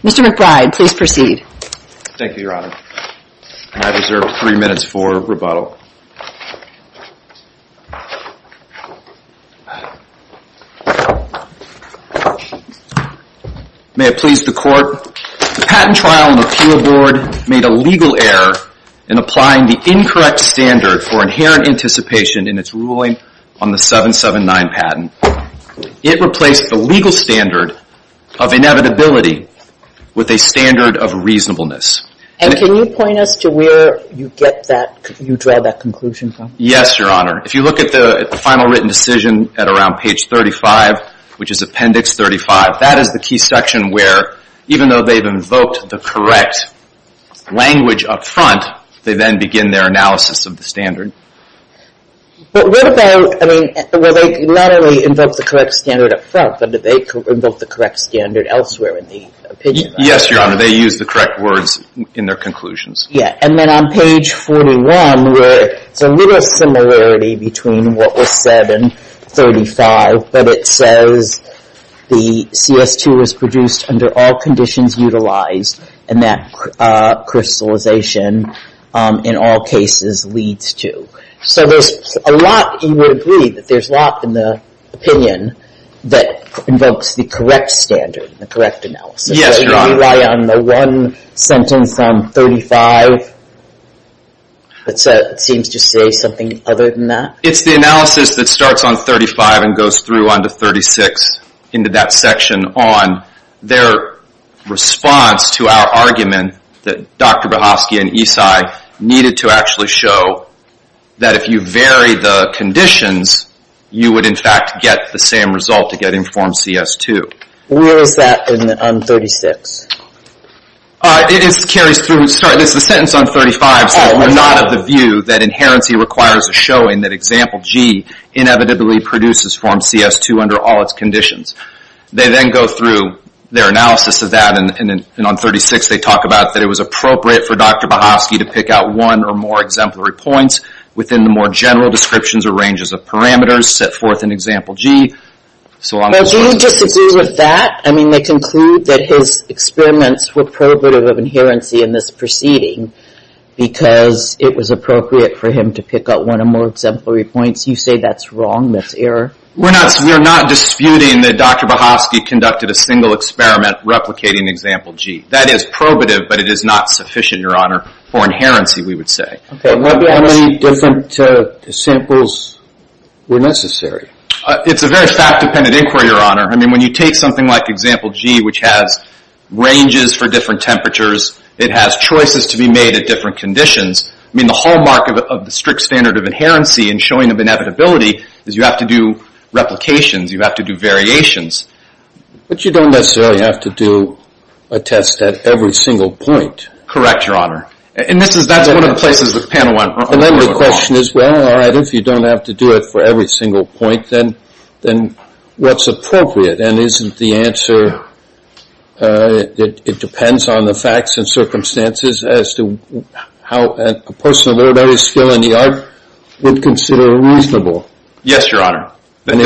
Mr. McBride, please proceed. Thank you, Your Honor. I deserve three minutes for rebuttal. May it please the Court. The patent trial in the appeal board made a legal error in applying the incorrect standard for inherent anticipation in its ruling on the 779 patent. It replaced the legal standard of inevitability with a standard of reasonableness. And can you point us to where you get that, you draw that conclusion from? Yes, Your Honor. If you look at the final written decision at around page 35, which is appendix 35, that is the key section where, even though they've invoked the correct language up front, they then begin their analysis of the standard. But what about, I mean, where they not only invoke the correct standard up front, but do they invoke the correct standard elsewhere in the opinion? Yes, Your Honor, they use the correct words in their conclusions. Yeah, and then on page 41, where it's a little similarity between what was said in 35, but it says the CS2 was produced under all conditions utilized and that crystallization in all cases leads to. So there's a lot, you would agree, that there's a lot in the opinion that invokes the correct standard, the correct analysis. Yes, Your Honor. Do they rely on the one sentence on 35 that seems to say something other than that? It's the analysis that starts on 35 and goes through onto 36 into that section on their response to our argument that Dr. Bohofsky and Esai needed to actually show that if you vary the conditions you would, in fact, get the same result to get in Form CS2. Where is that on 36? It carries through, sorry, it's the sentence on 35 that we're not of the view that inherency requires a showing that Example G inevitably produces Form CS2 under all its conditions. They then go through their analysis of that and on 36 they talk about that it was appropriate for Dr. Bohofsky to pick out one or more exemplary points within the more general descriptions or ranges of parameters set forth in Example G. Well, do you disagree with that? I mean, they conclude that his experiments were probative of inherency in this proceeding because it was appropriate for him to pick out one or more exemplary points. You say that's wrong, that's error? We're not disputing that Dr. Bohofsky conducted a single experiment replicating Example G. That is probative, but it is not sufficient, Your Honor, for inherency, we would say. How many different samples were necessary? It's a very fact-dependent inquiry, Your Honor. I mean, when you take something like Example G, which has ranges for different temperatures, it has choices to be made at different conditions. I mean, the hallmark of the strict standard of inherency and showing of inevitability is you have to do replications, you have to do variations. But you don't necessarily have to do a test at every single point. Correct, Your Honor. And that's one of the places the panel went wrong. And then the question is, well, all right, if you don't have to do it for every single point, then what's appropriate? And isn't the that it depends on the facts and circumstances as to how a person of literary skill in the art would consider reasonable? Yes, Your Honor. Isn't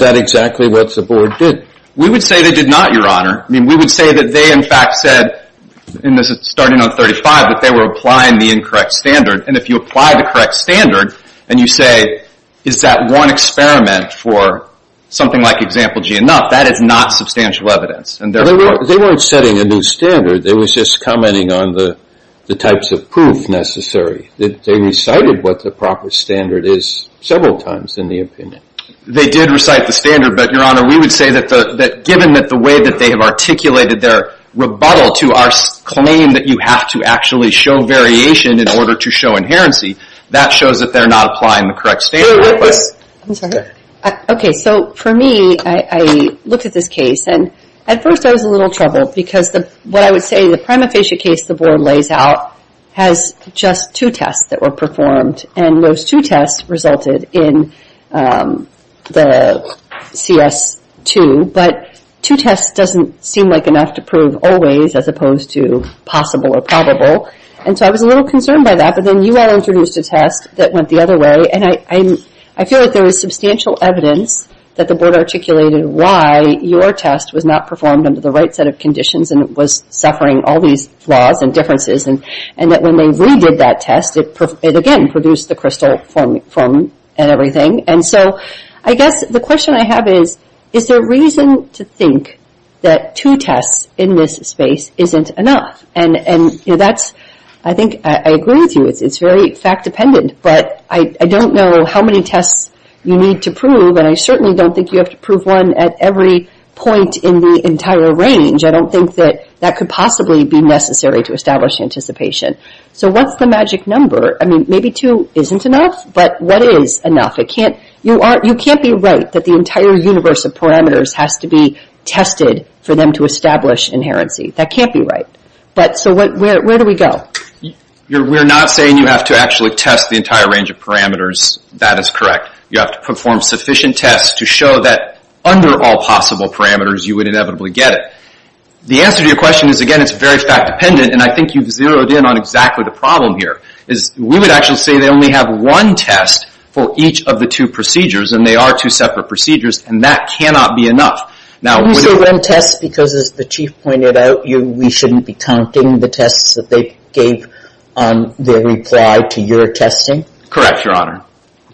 that exactly what the Board did? We would say they did not, Your Honor. I mean, we would say that they, in fact, said starting on 35 that they were applying the incorrect standard. And if you apply the correct standard and you say, is that one experiment for something like Example G enough, that is not substantial evidence. They weren't setting a new standard. They were just commenting on the types of proof necessary. They recited what the proper standard is several times in the opinion. They did recite the standard, but, Your Honor, we would say that given that the way that they have articulated their rebuttal to our claim that you have to actually show variation in order to show inherency, that shows that they're not applying the correct standard. I'm sorry. Okay, so for me, I looked at this case and at first I was a little troubled because what I would say, the prima facie case the Board lays out has just two tests that were performed and those two tests resulted in the CS2, but two tests doesn't seem like enough to prove always as opposed to possible or probable, and so I was a little concerned by that, but then you all introduced a test that went the other way, and I feel like there was substantial evidence that the Board articulated why your test was not performed under the right set of conditions and it was suffering all these flaws and differences, and that when they redid that test, it again produced the crystal foam and everything. And so I guess the question I have is, is there reason to think that two tests in this space isn't enough? And that's, I think I agree with you, it's very fact-dependent, but I don't know how many tests you need to prove and I certainly don't think you have to prove one at every point in the entire range. I don't think that could possibly be necessary to establish anticipation. So what's the magic number? I mean, maybe two isn't enough, but what is enough? You can't be right that the entire universe of parameters has to be tested for them to establish inherency. That can't be right. So where do we go? We're not saying you have to actually test the entire range of parameters. That is correct. You have to perform sufficient tests to show that under all possible parameters, you would inevitably get it. The answer to your question is, again, it's very fact-dependent, and I think you've zeroed in on exactly the problem here. We would actually say they only have one test for each of the two procedures, and they are two separate procedures, and that cannot be enough. You say one test because, as the Chief pointed out, we shouldn't be counting the tests that they gave on their reply to your testing? Correct, Your Honor.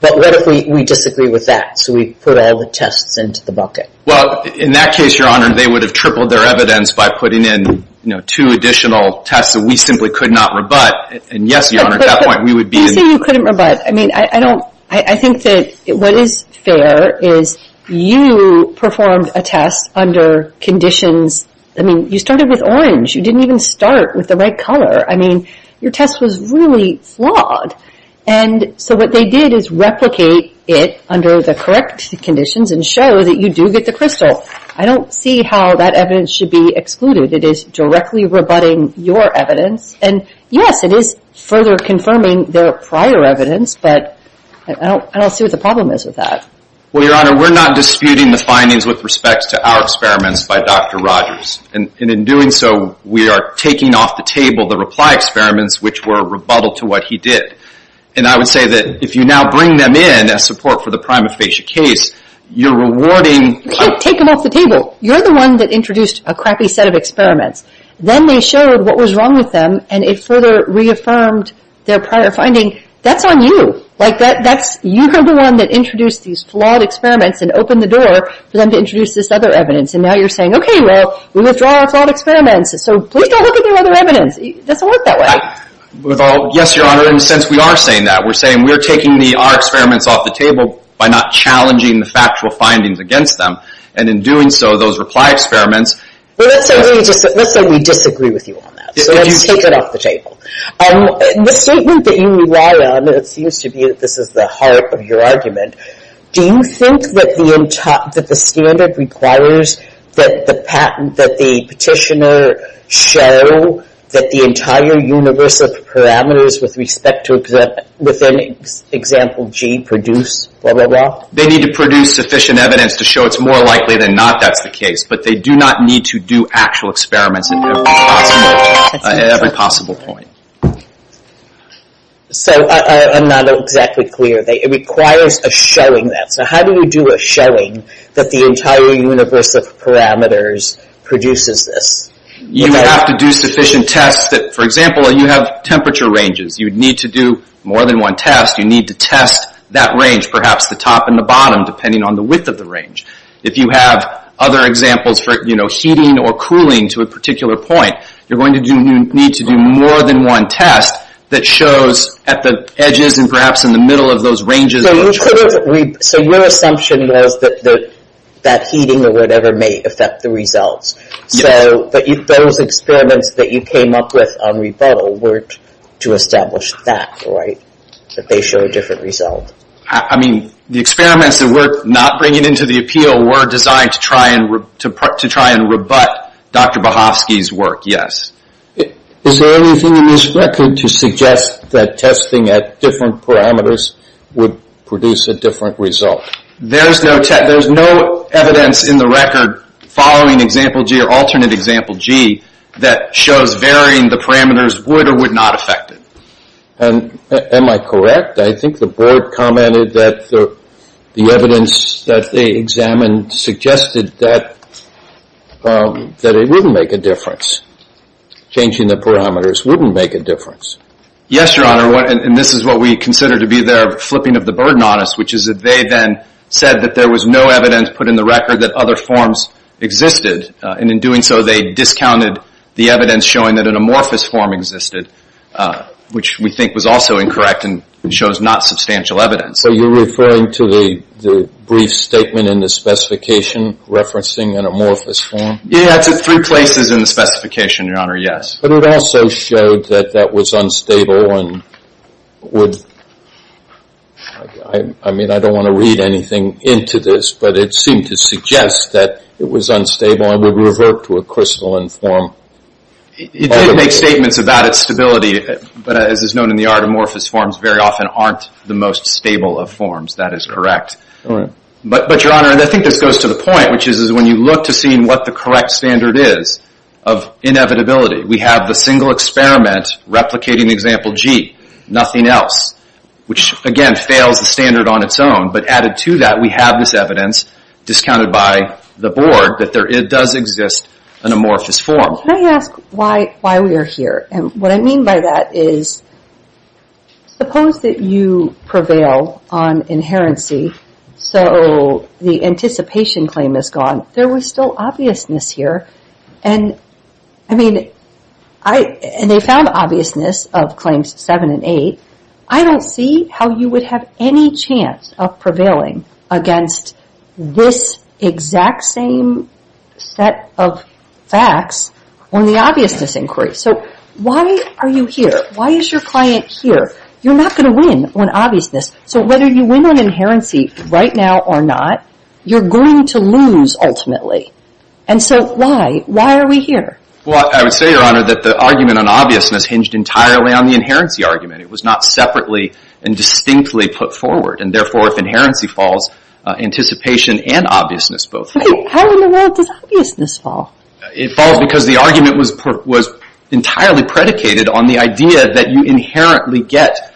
But what if we disagree with that? So we put all the tests into the bucket. Well, in that case, Your Honor, they would have tripled their evidence by putting in two additional tests that we simply could not rebut. And yes, Your Honor, at that point, we would be in... You say you couldn't rebut. I mean, I don't... I think that what is fair is you performed a test under conditions... I mean, you started with orange. You didn't even start with the right color. I mean, your test was really flawed. And so what they did is replicate it under the correct conditions and show that you do get the crystal. I don't see how that evidence should be excluded. It is directly rebutting your evidence. And yes, it is further confirming their prior evidence, but I don't see what the problem is with that. Well, Your Honor, we're not disputing the findings with respect to our experiments by Dr. Rogers. And in doing so, we are taking off the table the reply experiments which were rebuttal to what he did. And I would say that if you now bring them in as support for the prima facie case, you're rewarding... You can't take them off the table. You're the one that introduced a crappy set of experiments. Then they showed what was wrong with them, and it further reaffirmed their prior finding. That's on you. Like, that's... You're the one that introduced these flawed experiments and opened the door for them to introduce this other evidence. And now you're saying, okay, well, we withdraw our flawed experiments, so please don't look at their other evidence. It doesn't work that way. Yes, Your Honor, and since we are saying that, we're saying we're taking our experiments off the table by not challenging the factual findings against them. And in doing so, those reply experiments... Let's say we disagree with you on that. So let's take it off the table. The statement that you rely on, and it seems to be that this is the heart of your argument, do you think that the standard requires that the petitioner show that the entire universe of parameters with respect to within example G produce blah, blah, blah? They need to produce sufficient evidence to show it's more likely than not that's the case. But they do not need to do actual experiments at every possible point. At every possible point. So, I'm not exactly clear. It requires a showing that. So how do you do a showing that the entire universe of parameters produces this? You have to do sufficient tests that, for example, you have temperature ranges. You need to do more than one test. You need to test that range, perhaps the top and the bottom, depending on the width of the range. If you have other examples for heating or cooling to a particular point, you're going to need to do more than one test that shows at the edges and perhaps in the middle of those ranges. So your assumption was that that heating or whatever may affect the results. Yes. But those experiments that you came up with on rebuttal weren't to establish that, right? That they show a different result. I mean, the experiments that we're not bringing into the appeal were designed to try and rebut Dr. Bohofsky's work, yes. Is there anything in this record to suggest that testing at different parameters would produce a different result? There's no evidence in the record following example G or alternate example G that shows varying the parameters would or would not affect it. Am I correct? I think the board commented that the evidence that they examined suggested that it wouldn't make a difference. Changing the parameters wouldn't make a difference. Yes, Your Honor. And this is what we consider to be their flipping of the burden on us, which is that they then said that there was no evidence put in the record that other forms existed. And in doing so they discounted the evidence showing that an amorphous form existed which we think was also incorrect and shows not substantial evidence. So you're referring to the brief statement in the specification referencing an amorphous form? Yeah, it's at three places in the specification, Your Honor, yes. But it also showed that that was unstable and would I mean I don't want to read anything into this but it seemed to suggest that it was unstable and would revert to crystalline form. It did make statements about its stability but as is known in the art, amorphous forms very often aren't the most stable of forms. That is correct. But, Your Honor, I think this goes to the point, which is when you look to see what the correct standard is of inevitability. We have the single experiment replicating the example G. Nothing else. Which, again, fails the standard on its own. But added to that we have this evidence discounted by the board that it does exist an amorphous form. Can I ask why we are here? And what I mean by that is suppose that you prevail on inherency so the anticipation claim is gone. There was still obviousness here and I mean they found obviousness of claims 7 and 8. I don't see how you would have any chance of prevailing against this exact same set of facts on the obviousness inquiry. So why are you here? Why is your client here? You're not going to win on obviousness so whether you win on inherency right now or not, you're going to lose ultimately. And so why? Why are we here? Well, I would say, Your Honor, that the argument on obviousness hinged entirely on the inherency argument. It was not separately and distinctly put forward and therefore if inherency falls, anticipation and obviousness both fall. How in the world does obviousness fall? It falls because the argument was entirely predicated on the idea that you inherently get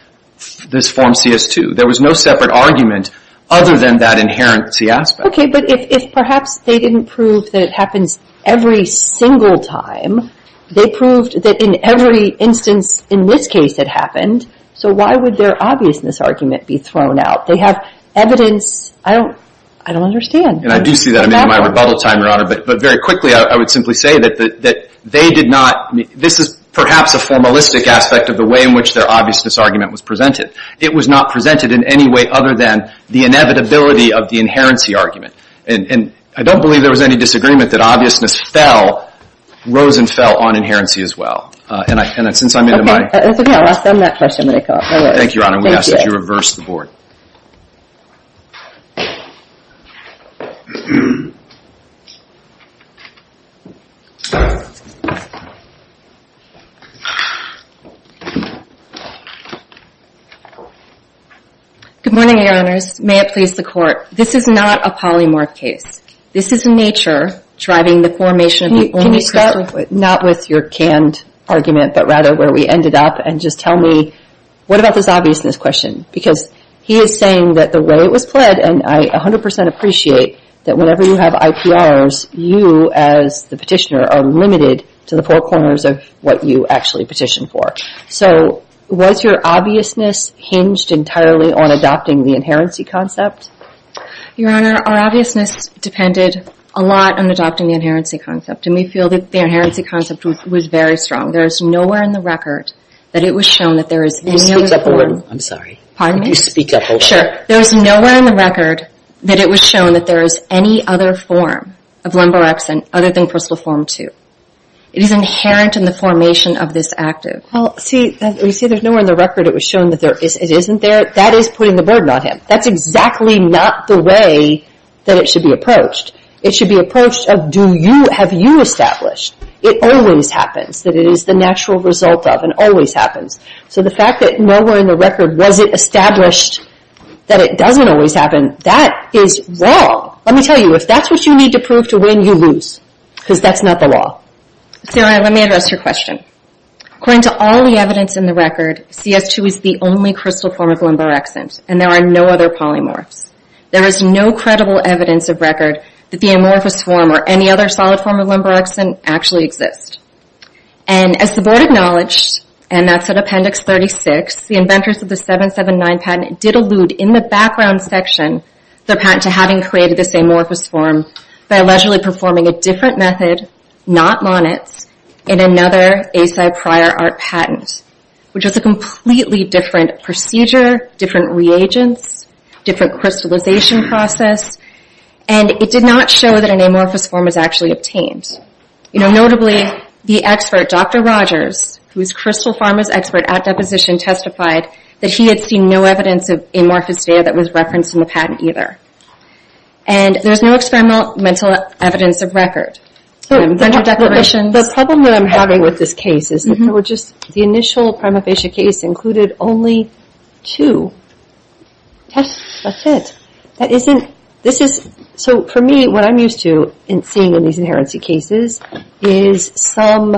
this form CS2. There was no separate argument other than that inherency aspect. Okay, but if perhaps they didn't prove that it happens every single time, they proved that in every instance in this case it happened, so why would their obviousness argument be thrown out? They have evidence, I don't understand. And I do see that in my rebuttal time, Your Honor, but very quickly I would simply say that they did not this is perhaps a formalistic aspect of the way in which their obviousness argument was presented. It was not presented in any way other than the inevitability of the inherency argument. And I don't believe there was any disagreement that obviousness fell, rose and fell on inherency as well. And since I'm into my It's okay, I'll ask them that question when they come up. Thank you, Your Honor. We ask that you reverse the board. Good morning, Your Honors. May it please the Court. This is not a polymorph case. This is nature driving the formation of the Can you start, not with your canned argument, but rather where we ended up and just tell me, what about this obviousness question? Because he is saying that the way it was pled, and I 100% appreciate that whenever you have IPRs, you as the petitioner are limited to the four corners of what you actually petition for. So, was your obviousness hinged entirely on adopting the inherency concept? Your Honor, our obviousness depended a lot on adopting the inherency concept. And we feel that the inherency concept was very strong. There is nowhere in the record that it was shown that there is any other form. You speak up a little. I'm sorry. Pardon me? You speak up a little. Sure. There is nowhere in the record that it was shown that there is any other form of Lumborexan other than personal form 2. It is inherent in the formation of this active. Well, see, you see, there's nowhere in the record it was shown that it isn't there. That is putting the burden on him. That's exactly not the way that it should be approached. It should be approached of do you, have you established? It always happens. That it is the natural result of and always happens. So the fact that nowhere in the record was it established that it doesn't always happen, that is wrong. Let me tell you, if that's what you need to prove to win, you lose. Because that's not the law. Your Honor, let me address your question. According to all the evidence in the record, CS2 is the only crystal form of Lumborexan and there are no other polymorphs. There is no credible evidence of record that the amorphous form or any other solid form of Lumborexan actually exists. As the Board acknowledged, and that's at Appendix 36, the inventors of the 779 patent did allude in the background section to having created this amorphous form by allegedly performing a different method, not monets, in another ASI prior art patent, which is a completely different procedure, different reagents, different crystallization process, and it did not show that an amorphous form was actually obtained. Notably, the expert, Dr. Rogers, who is Crystal Pharma's expert at deposition, testified that he had seen no evidence of amorphous data that was referenced in the patent either. And there is no experimental evidence of record. The problem that I'm having with this case is that the initial prima facie case included only two tests. That's it. That isn't, this is, so for me, what I'm used to seeing in these inherency cases is some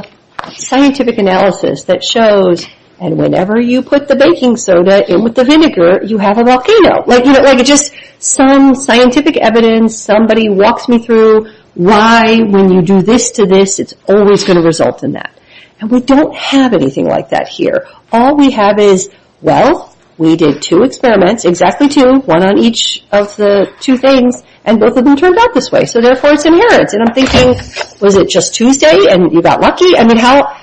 scientific analysis that shows and whenever you put the baking soda in with the vinegar, you have a volcano. Like, you know, like just some scientific evidence, somebody walks me through why when you do this to this, it's always going to result in that. And we don't have anything like that here. All we have is well, we did two experiments, exactly two, one on each of the two things, and both of them turned out this way. So therefore, it's inherent. And I'm thinking, was it just Tuesday and you got lucky? I mean, how?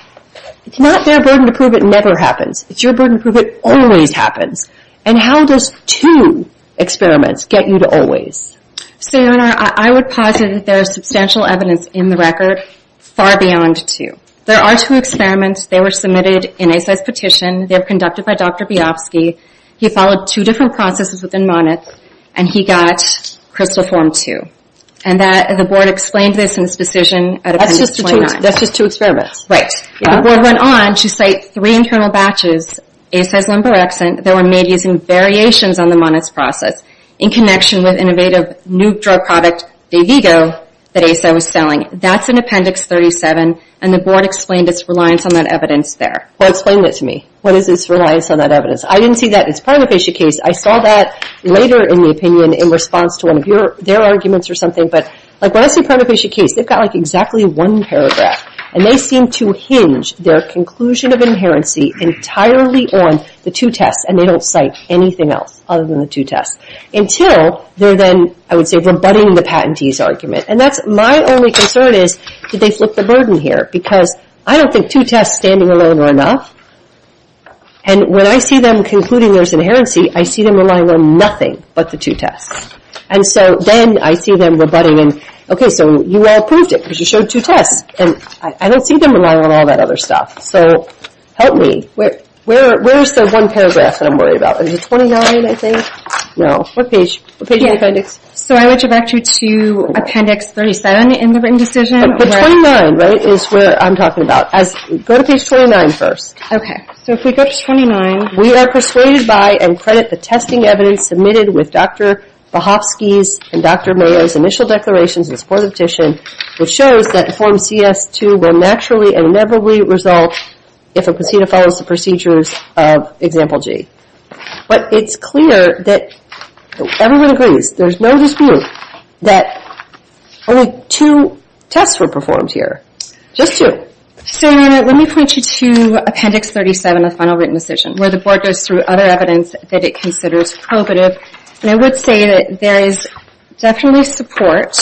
It's not their burden to prove it never happens. It's your burden to prove it always happens. And how does two experiments get you to always? Sayona, I would posit that there is substantial evidence in the record far beyond two. There are two experiments. They were submitted in ASAI's petition. They were conducted by Dr. Biafsky. He followed two different processes within Monneth and he got crystal form 2. And the board explained this in his decision at Appendix 29. That's just two experiments. Right. The board went on to cite three internal batches, ASAI's limberexant, that were made using variations on the Monneth's process in connection with innovative new drug product, Davigo, that ASAI was selling. That's in Appendix 37, and the board explained its reliance on that evidence there. Well, explain that to me. What is its reliance on that evidence? I didn't see that in Pranavesh's case. I saw that later in the opinion in response to one of their arguments or something, but when I see Pranavesh's case, they've got exactly one paragraph. And they seem to hinge their conclusion of inherency entirely on the two tests, and they don't cite anything else other than the two tests. Until they're then, I would say, rebutting the patentee's argument. And that's my only concern is did they flip the burden here, because I don't think two tests standing alone are enough. And when I see them concluding there's inherency, I see them relying on nothing but the two tests. And so then, I see them rebutting, and, okay, so you all proved it, because you showed two tests. And I don't see them relying on all that other stuff. So, help me. Where's the one paragraph that I'm worried about? Is it 29, I think? No. What page? What page in the appendix? So I want you back to Appendix 37 in the written decision. But 29, right, is where I'm talking about. Go to page 29 first. Okay. So if we go to 29. We are persuaded by and credit the testing evidence submitted with Dr. Bohofsky's and Dr. Mayo's initial declarations in support of the petition which shows that Form CS-2 will naturally and inevitably result if a procedure follows the procedures of Example G. But it's clear that everyone agrees, there's no dispute that only two tests were performed here. Just two. So, let me point you to Appendix 37 of the final written decision, where the Board goes through other evidence that it considers probative, and I would say that there is definitely support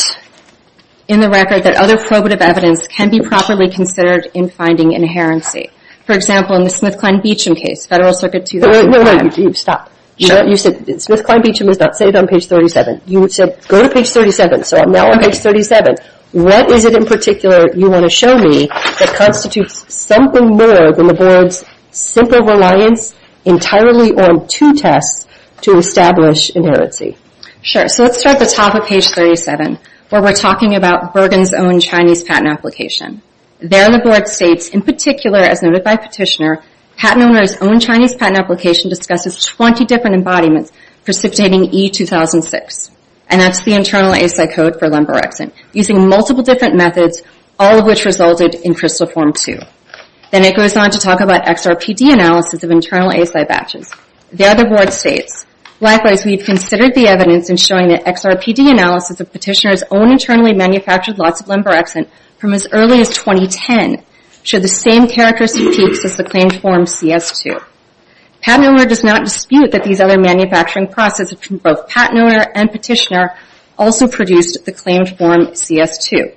in the record that other probative evidence can be properly considered in finding inherency. For example, in the Smith-Klein-Beacham case, Federal Circuit 2000. Wait, wait, wait. Stop. Sure. You said Smith-Klein-Beacham is not stated on page 37. You said go to page 37, so I'm now on page 37. What is it in particular you want to show me that constitutes something more than the Board's simple reliance entirely on two tests to establish inherency? Sure. So let's start at the top of page 37 where we're talking about Bergen's own Chinese patent application. There the Board states, in particular as noted by Petitioner, patent owner's own Chinese patent application discusses 20 different embodiments precipitating E-2006, and that's the internal ASI code for lemborexin, using multiple different methods, all of which resulted in crystal form 2. Then it goes on to talk about XRPD analysis of internal ASI batches. The other Board states, likewise, we've considered the evidence in showing that XRPD analysis of Petitioner's own internally manufactured lots of lemborexin from as early as 2010 show the same characteristic peaks as the claimed form CS2. Patent owner does not dispute that these other manufacturing processes from both patent owner and Petitioner also produced the claimed form CS2.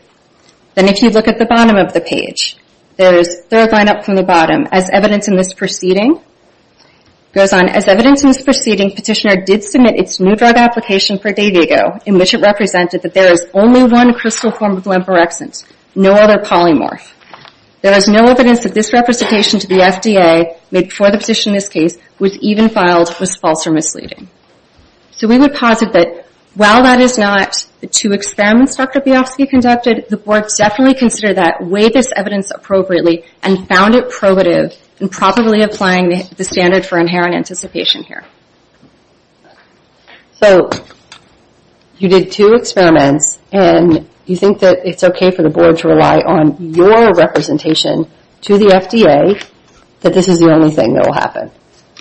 Then if you look at the bottom of the page, there's third line up from the bottom, as evidence in this proceeding, it goes on, as evidence in this proceeding, Petitioner did submit its new drug application for a day ago, in which it represented that there is only one crystal form of lemborexin, no other polymorph. There is no evidence that this representation to the FDA, made before the petition in this case, was even filed, was false or misleading. So we would posit that while that is not the two experiments Dr. Biafsky conducted, the Board definitely considered that way this evidence appropriately and found it probative in properly applying the standard for inherent anticipation here. So, you did two experiments and you think that it's okay for the Board to rely on your representation to the FDA that this is the only thing that will happen.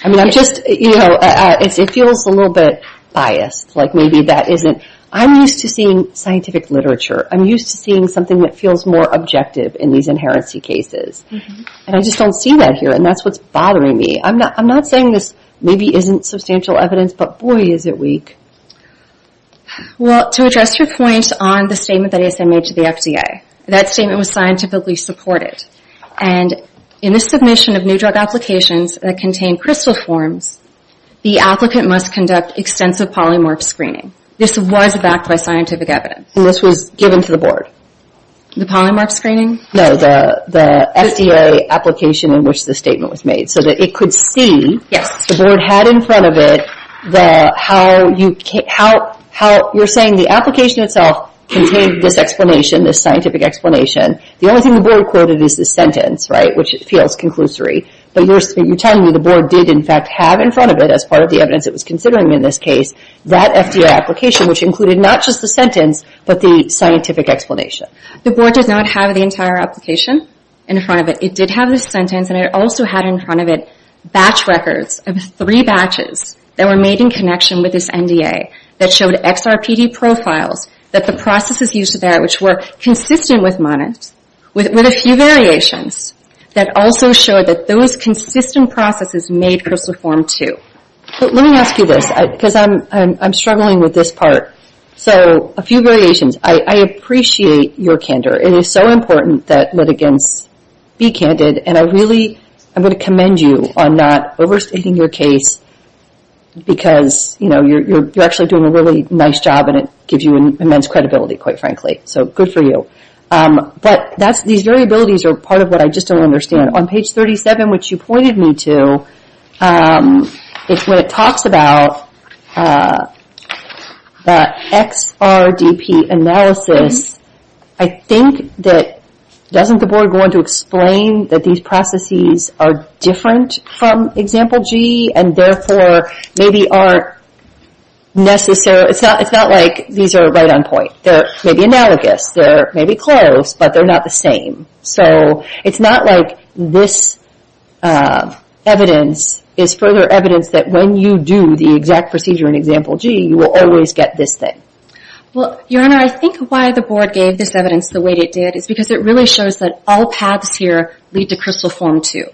I mean, I'm just, you know, it feels a little bit biased, like maybe that isn't, I'm used to seeing scientific literature, I'm used to seeing something that feels more objective in these inherency cases. And I just don't see that here, and that's what's bothering me. I'm not saying this maybe isn't substantial evidence, but boy is it weak. Well, to address your point on the statement that ASN made to the FDA, that statement was scientifically supported. And in the submission of new drug applications that contain crystal forms, the applicant must conduct extensive polymorph screening. This was backed by scientific evidence. And this was given to the Board. The polymorph screening? No, the FDA application in which the statement was made, so that it could see the Board had in front of it how you, you're saying the application itself contained this explanation, this scientific explanation. The only thing the Board quoted is the sentence, right, which feels conclusory. But you're telling me the Board did in fact have in front of it, as part of the evidence it was considering in this case, that FDA application, which included not just the sentence, but the scientific explanation. The Board does not have the entire application in front of it. It did have the sentence, and it also had in front of it batch records, three batches that were made in connection with this NDA, that showed XRPD profiles, that the processes used there, which were consistent with MONIT, with a few variations, that also showed that those consistent processes made CRSLA Form 2. Let me ask you this, because I'm struggling with this part. A few variations. I appreciate your candor. It is so important that litigants be candid, and I really, I'm going to commend you on not overstating your case because you're actually doing a really nice job, and it gives you immense credibility quite frankly, so good for you. These variabilities are part of what I just don't understand. On page 37, which you pointed me to, when it talks about the XRDP analysis, I think that doesn't the Board want to explain that these processes are different from example G, and therefore, maybe aren't necessary, it's not like these are right on point. They may be analogous, they may be close, but they're not the same. It's not like this evidence is further evidence that when you do the exact procedure in example G, you will always get this thing. Your Honor, I think why the Board gave this evidence the way it did is because it really shows that all paths here lead to CRSLA Form 2.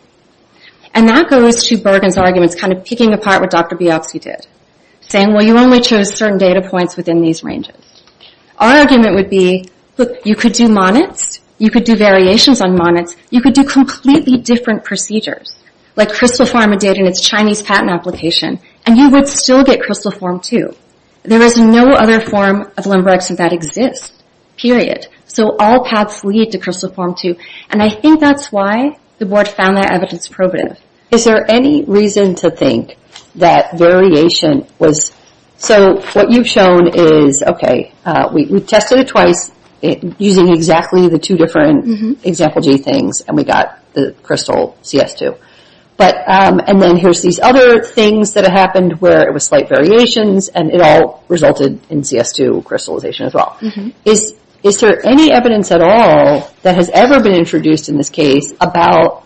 And that goes to Bergen's arguments, kind of picking apart what Dr. Bialksi did, saying, well, you only chose certain data points within these ranges. Our argument would be, look, you could do MONITs, you could do variations on MONITs, you could do completely different procedures, like CRSLA Form 1 did in its Chinese patent application, and you would still get CRSLA Form 2. There is no other form of limborexia that exists. Period. So all paths lead to CRSLA Form 2, and I think that's why the Board found that evidence probative. Is there any reason to think that variation was...so what you've shown is, okay, we tested it twice using exactly the two different example G things, and we got the crystal CS2. And then here's these other things that happened where it was slight variations, and it all resulted in CS2 crystallization as well. Is there any evidence at all that has ever been introduced in this case about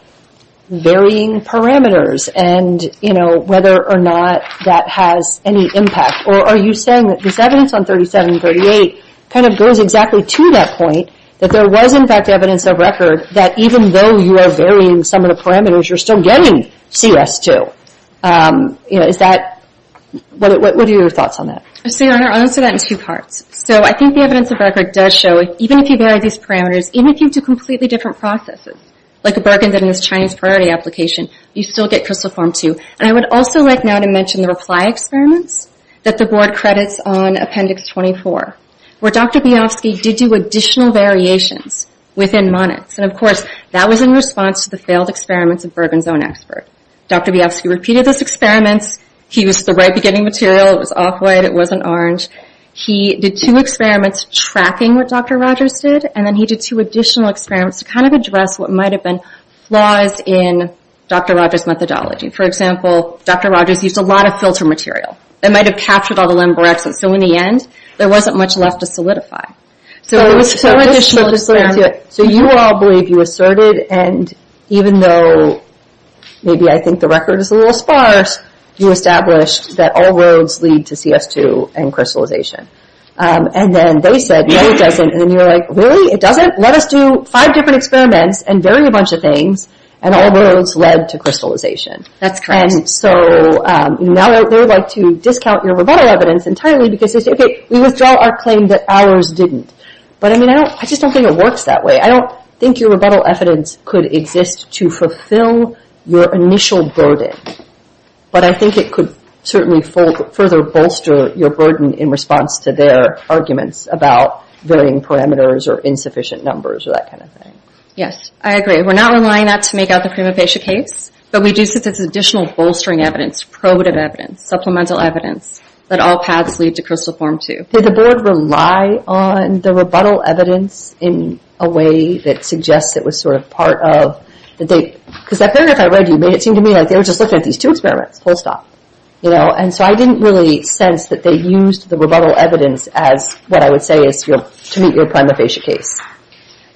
varying parameters and, you know, whether or not that has any impact? Or are you saying that this evidence on 37 and 38 kind of goes exactly to that point that there was, in fact, evidence of record that even though you are varying some of the parameters, you're still getting CS2? Is that... what are your thoughts on that? I'll answer that in two parts. So I think the evidence of record does show even if you vary these parameters, even if you do completely different processes, like Bergen did in his Chinese priority application, you still get crystal form 2. And I would also like now to mention the reply experiments that the board credits on appendix 24, where Dr. Biafsky did do additional variations within monads. And of course that was in response to the failed experiments of Bergen's own expert. Dr. Biafsky repeated those experiments. He used the right beginning material. It was off-white. It wasn't orange. He did two experiments tracking what Dr. Rogers did, and then he did two additional experiments to kind of address what might have been flaws in Dr. Rogers' methodology. For example, Dr. Rogers used a lot of filter material. It might have captured all the limber excess. So in the end, there wasn't much left to solidify. So it was two additional experiments... So you all believe you asserted and even though maybe I think the record is a little sparse, you established that all roads lead to CS2 and crystallization. And then they said, no it doesn't. And then you're like, really? It doesn't? Let us do five different experiments and vary a bunch of things and all roads lead to crystallization. That's correct. And so now they would like to discount your rebuttal evidence entirely because we withdraw our claim that ours didn't. But I mean, I just don't think it works that way. I don't think your rebuttal evidence could exist to fulfill your initial burden. But I think it could certainly further bolster your burden in response to their arguments about varying parameters or insufficient numbers or that kind of thing. Yes, I agree. We're not relying on that to make out the prima facie case, but we do see this additional bolstering evidence, probative evidence, supplemental evidence that all paths lead to crystal form 2. Did the board rely on the rebuttal evidence in a way that suggests it was sort of part of the date? Because apparently if I read you, it seemed to me like they were just looking at these two experiments full stop. And so I didn't really sense that they used the rebuttal evidence as what I would say is to meet your prima facie case.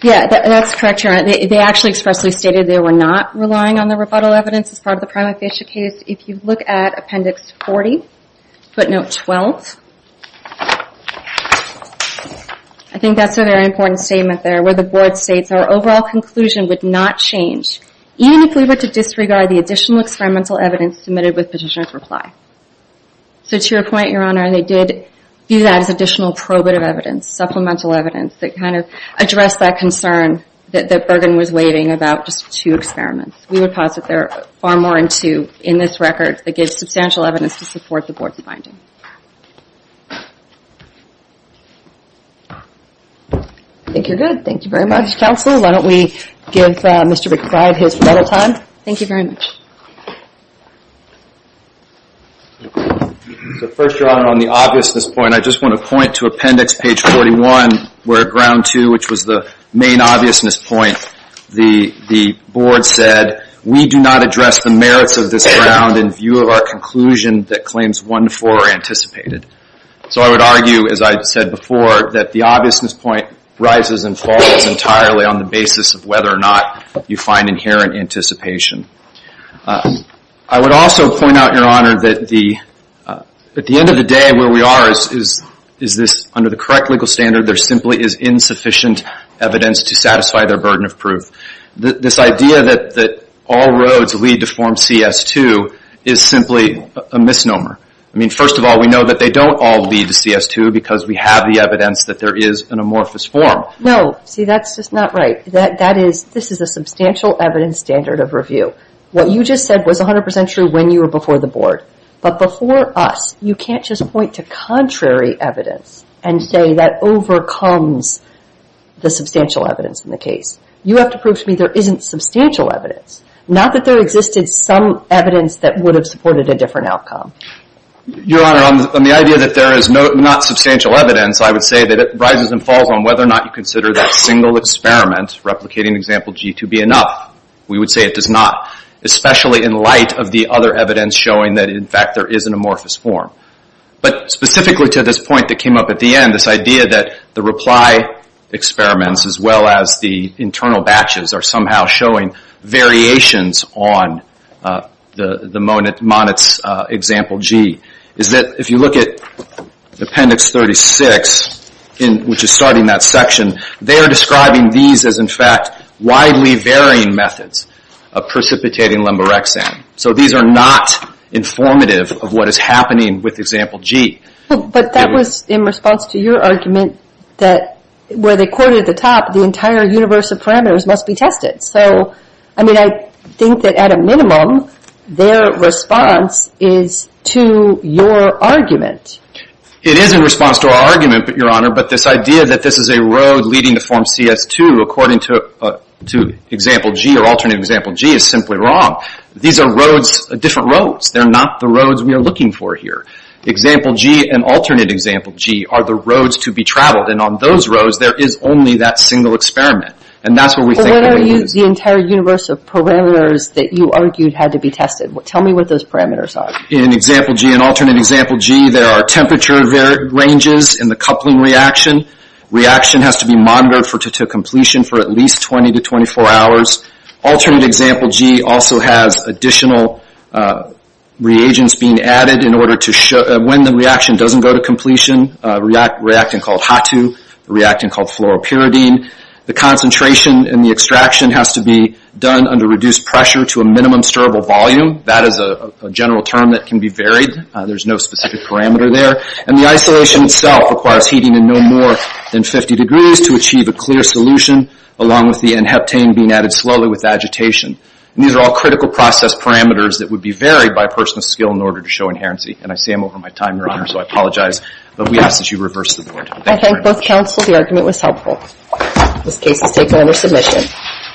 Yes, that's correct. They actually expressly stated they were not relying on the rebuttal evidence as part of the prima facie case. If you look at appendix 40, footnote 12, I think that's a very important statement there where the board states our overall conclusion would not change even if we were to disregard the additional experimental evidence submitted with petitioner's reply. So to your point, Your Honor, they did view that as additional probative evidence, supplemental evidence that kind of addressed that concern that Bergen was waving about just two experiments. We would posit there are far more in two in this record that gives substantial evidence to support the board's finding. I think you're good. Thank you very much, Counselor. Why don't we give Mr. McBride his medal time. Thank you very much. First, Your Honor, on the obviousness point, I just want to point to appendix page 41 where at ground two, which was the main obviousness point, the board said we do not address the merits of this ground in view of our conclusion that claims 1 to 4 are anticipated. So I would argue, as I said before, that the obviousness point rises and falls entirely on the basis of whether or not you find inherent anticipation. I would also point out, Your Honor, that at the end of the day, where we are, under the correct legal standard, there simply is insufficient evidence to satisfy their burden of proof. This idea that all roads lead to form CS2 is simply a misnomer. I mean, first of all, we know that they don't all lead to CS2 because we have the evidence that there is an amorphous form. No. See, that's just not right. This is a substantial evidence standard of review. What you just said was 100% true when you were before the board. But before us, you can't just point to contrary evidence and say that overcomes the substantial evidence in the case. You have to prove to me there isn't substantial evidence. Not that there existed some evidence that would have supported a different outcome. Your Honor, on the idea that there is not substantial evidence, I would say that it rises and falls on whether or not you consider that single experiment, replicating Example G, to be enough. We would say it does not, especially in light of the other evidence showing that, in fact, there is an amorphous form. But specifically to this point that came up at the end, this idea that the reply experiments as well as the internal batches are somehow showing variations on the Monitz Example G is that if you look at Appendix 36, which is starting that section, they are describing these as, in fact, widely varying methods of precipitating lemborexan. So these are not informative of what is happening with Example G. But that was in response to your argument that where they quoted at the top, the entire universe of parameters must be tested. So, I mean, I think that at a minimum, their response is to your argument. It is in response to our argument, Your Honor, but this idea that this is a road leading to Form CS2, according to Example G, or Alternate Example G, is simply wrong. These are roads, different roads. They're not the roads we are looking for here. Example G and Alternate Example G are the roads to be traveled, and on those roads, there is only that single experiment. And that's what we think we're using. But what about the entire universe of parameters that you argued had to be tested? Tell me what those parameters are. In Example G and Alternate Example G, there are temperature ranges in the coupling reaction. Reaction has to be monitored to completion for at least 20 to 24 hours. Alternate Example G also has additional reagents being added in order to show when the reaction doesn't go to completion, a reactant called HATU, a reactant called fluoropyridine. The concentration in the extraction has to be done under reduced pressure to a minimum stirable volume. That is a general term that can be varied. There's no specific parameter there. And the isolation itself requires heating in no more than 50 degrees to achieve a clear solution, along with the n-heptane being added slowly with agitation. These are all critical process parameters that would be varied by a person of skill in order to show inherency. And I see I'm over my time, Your Honor, so I apologize. But we ask that you reverse the board. I thank both counsel. The argument was helpful. This case is taken under submission.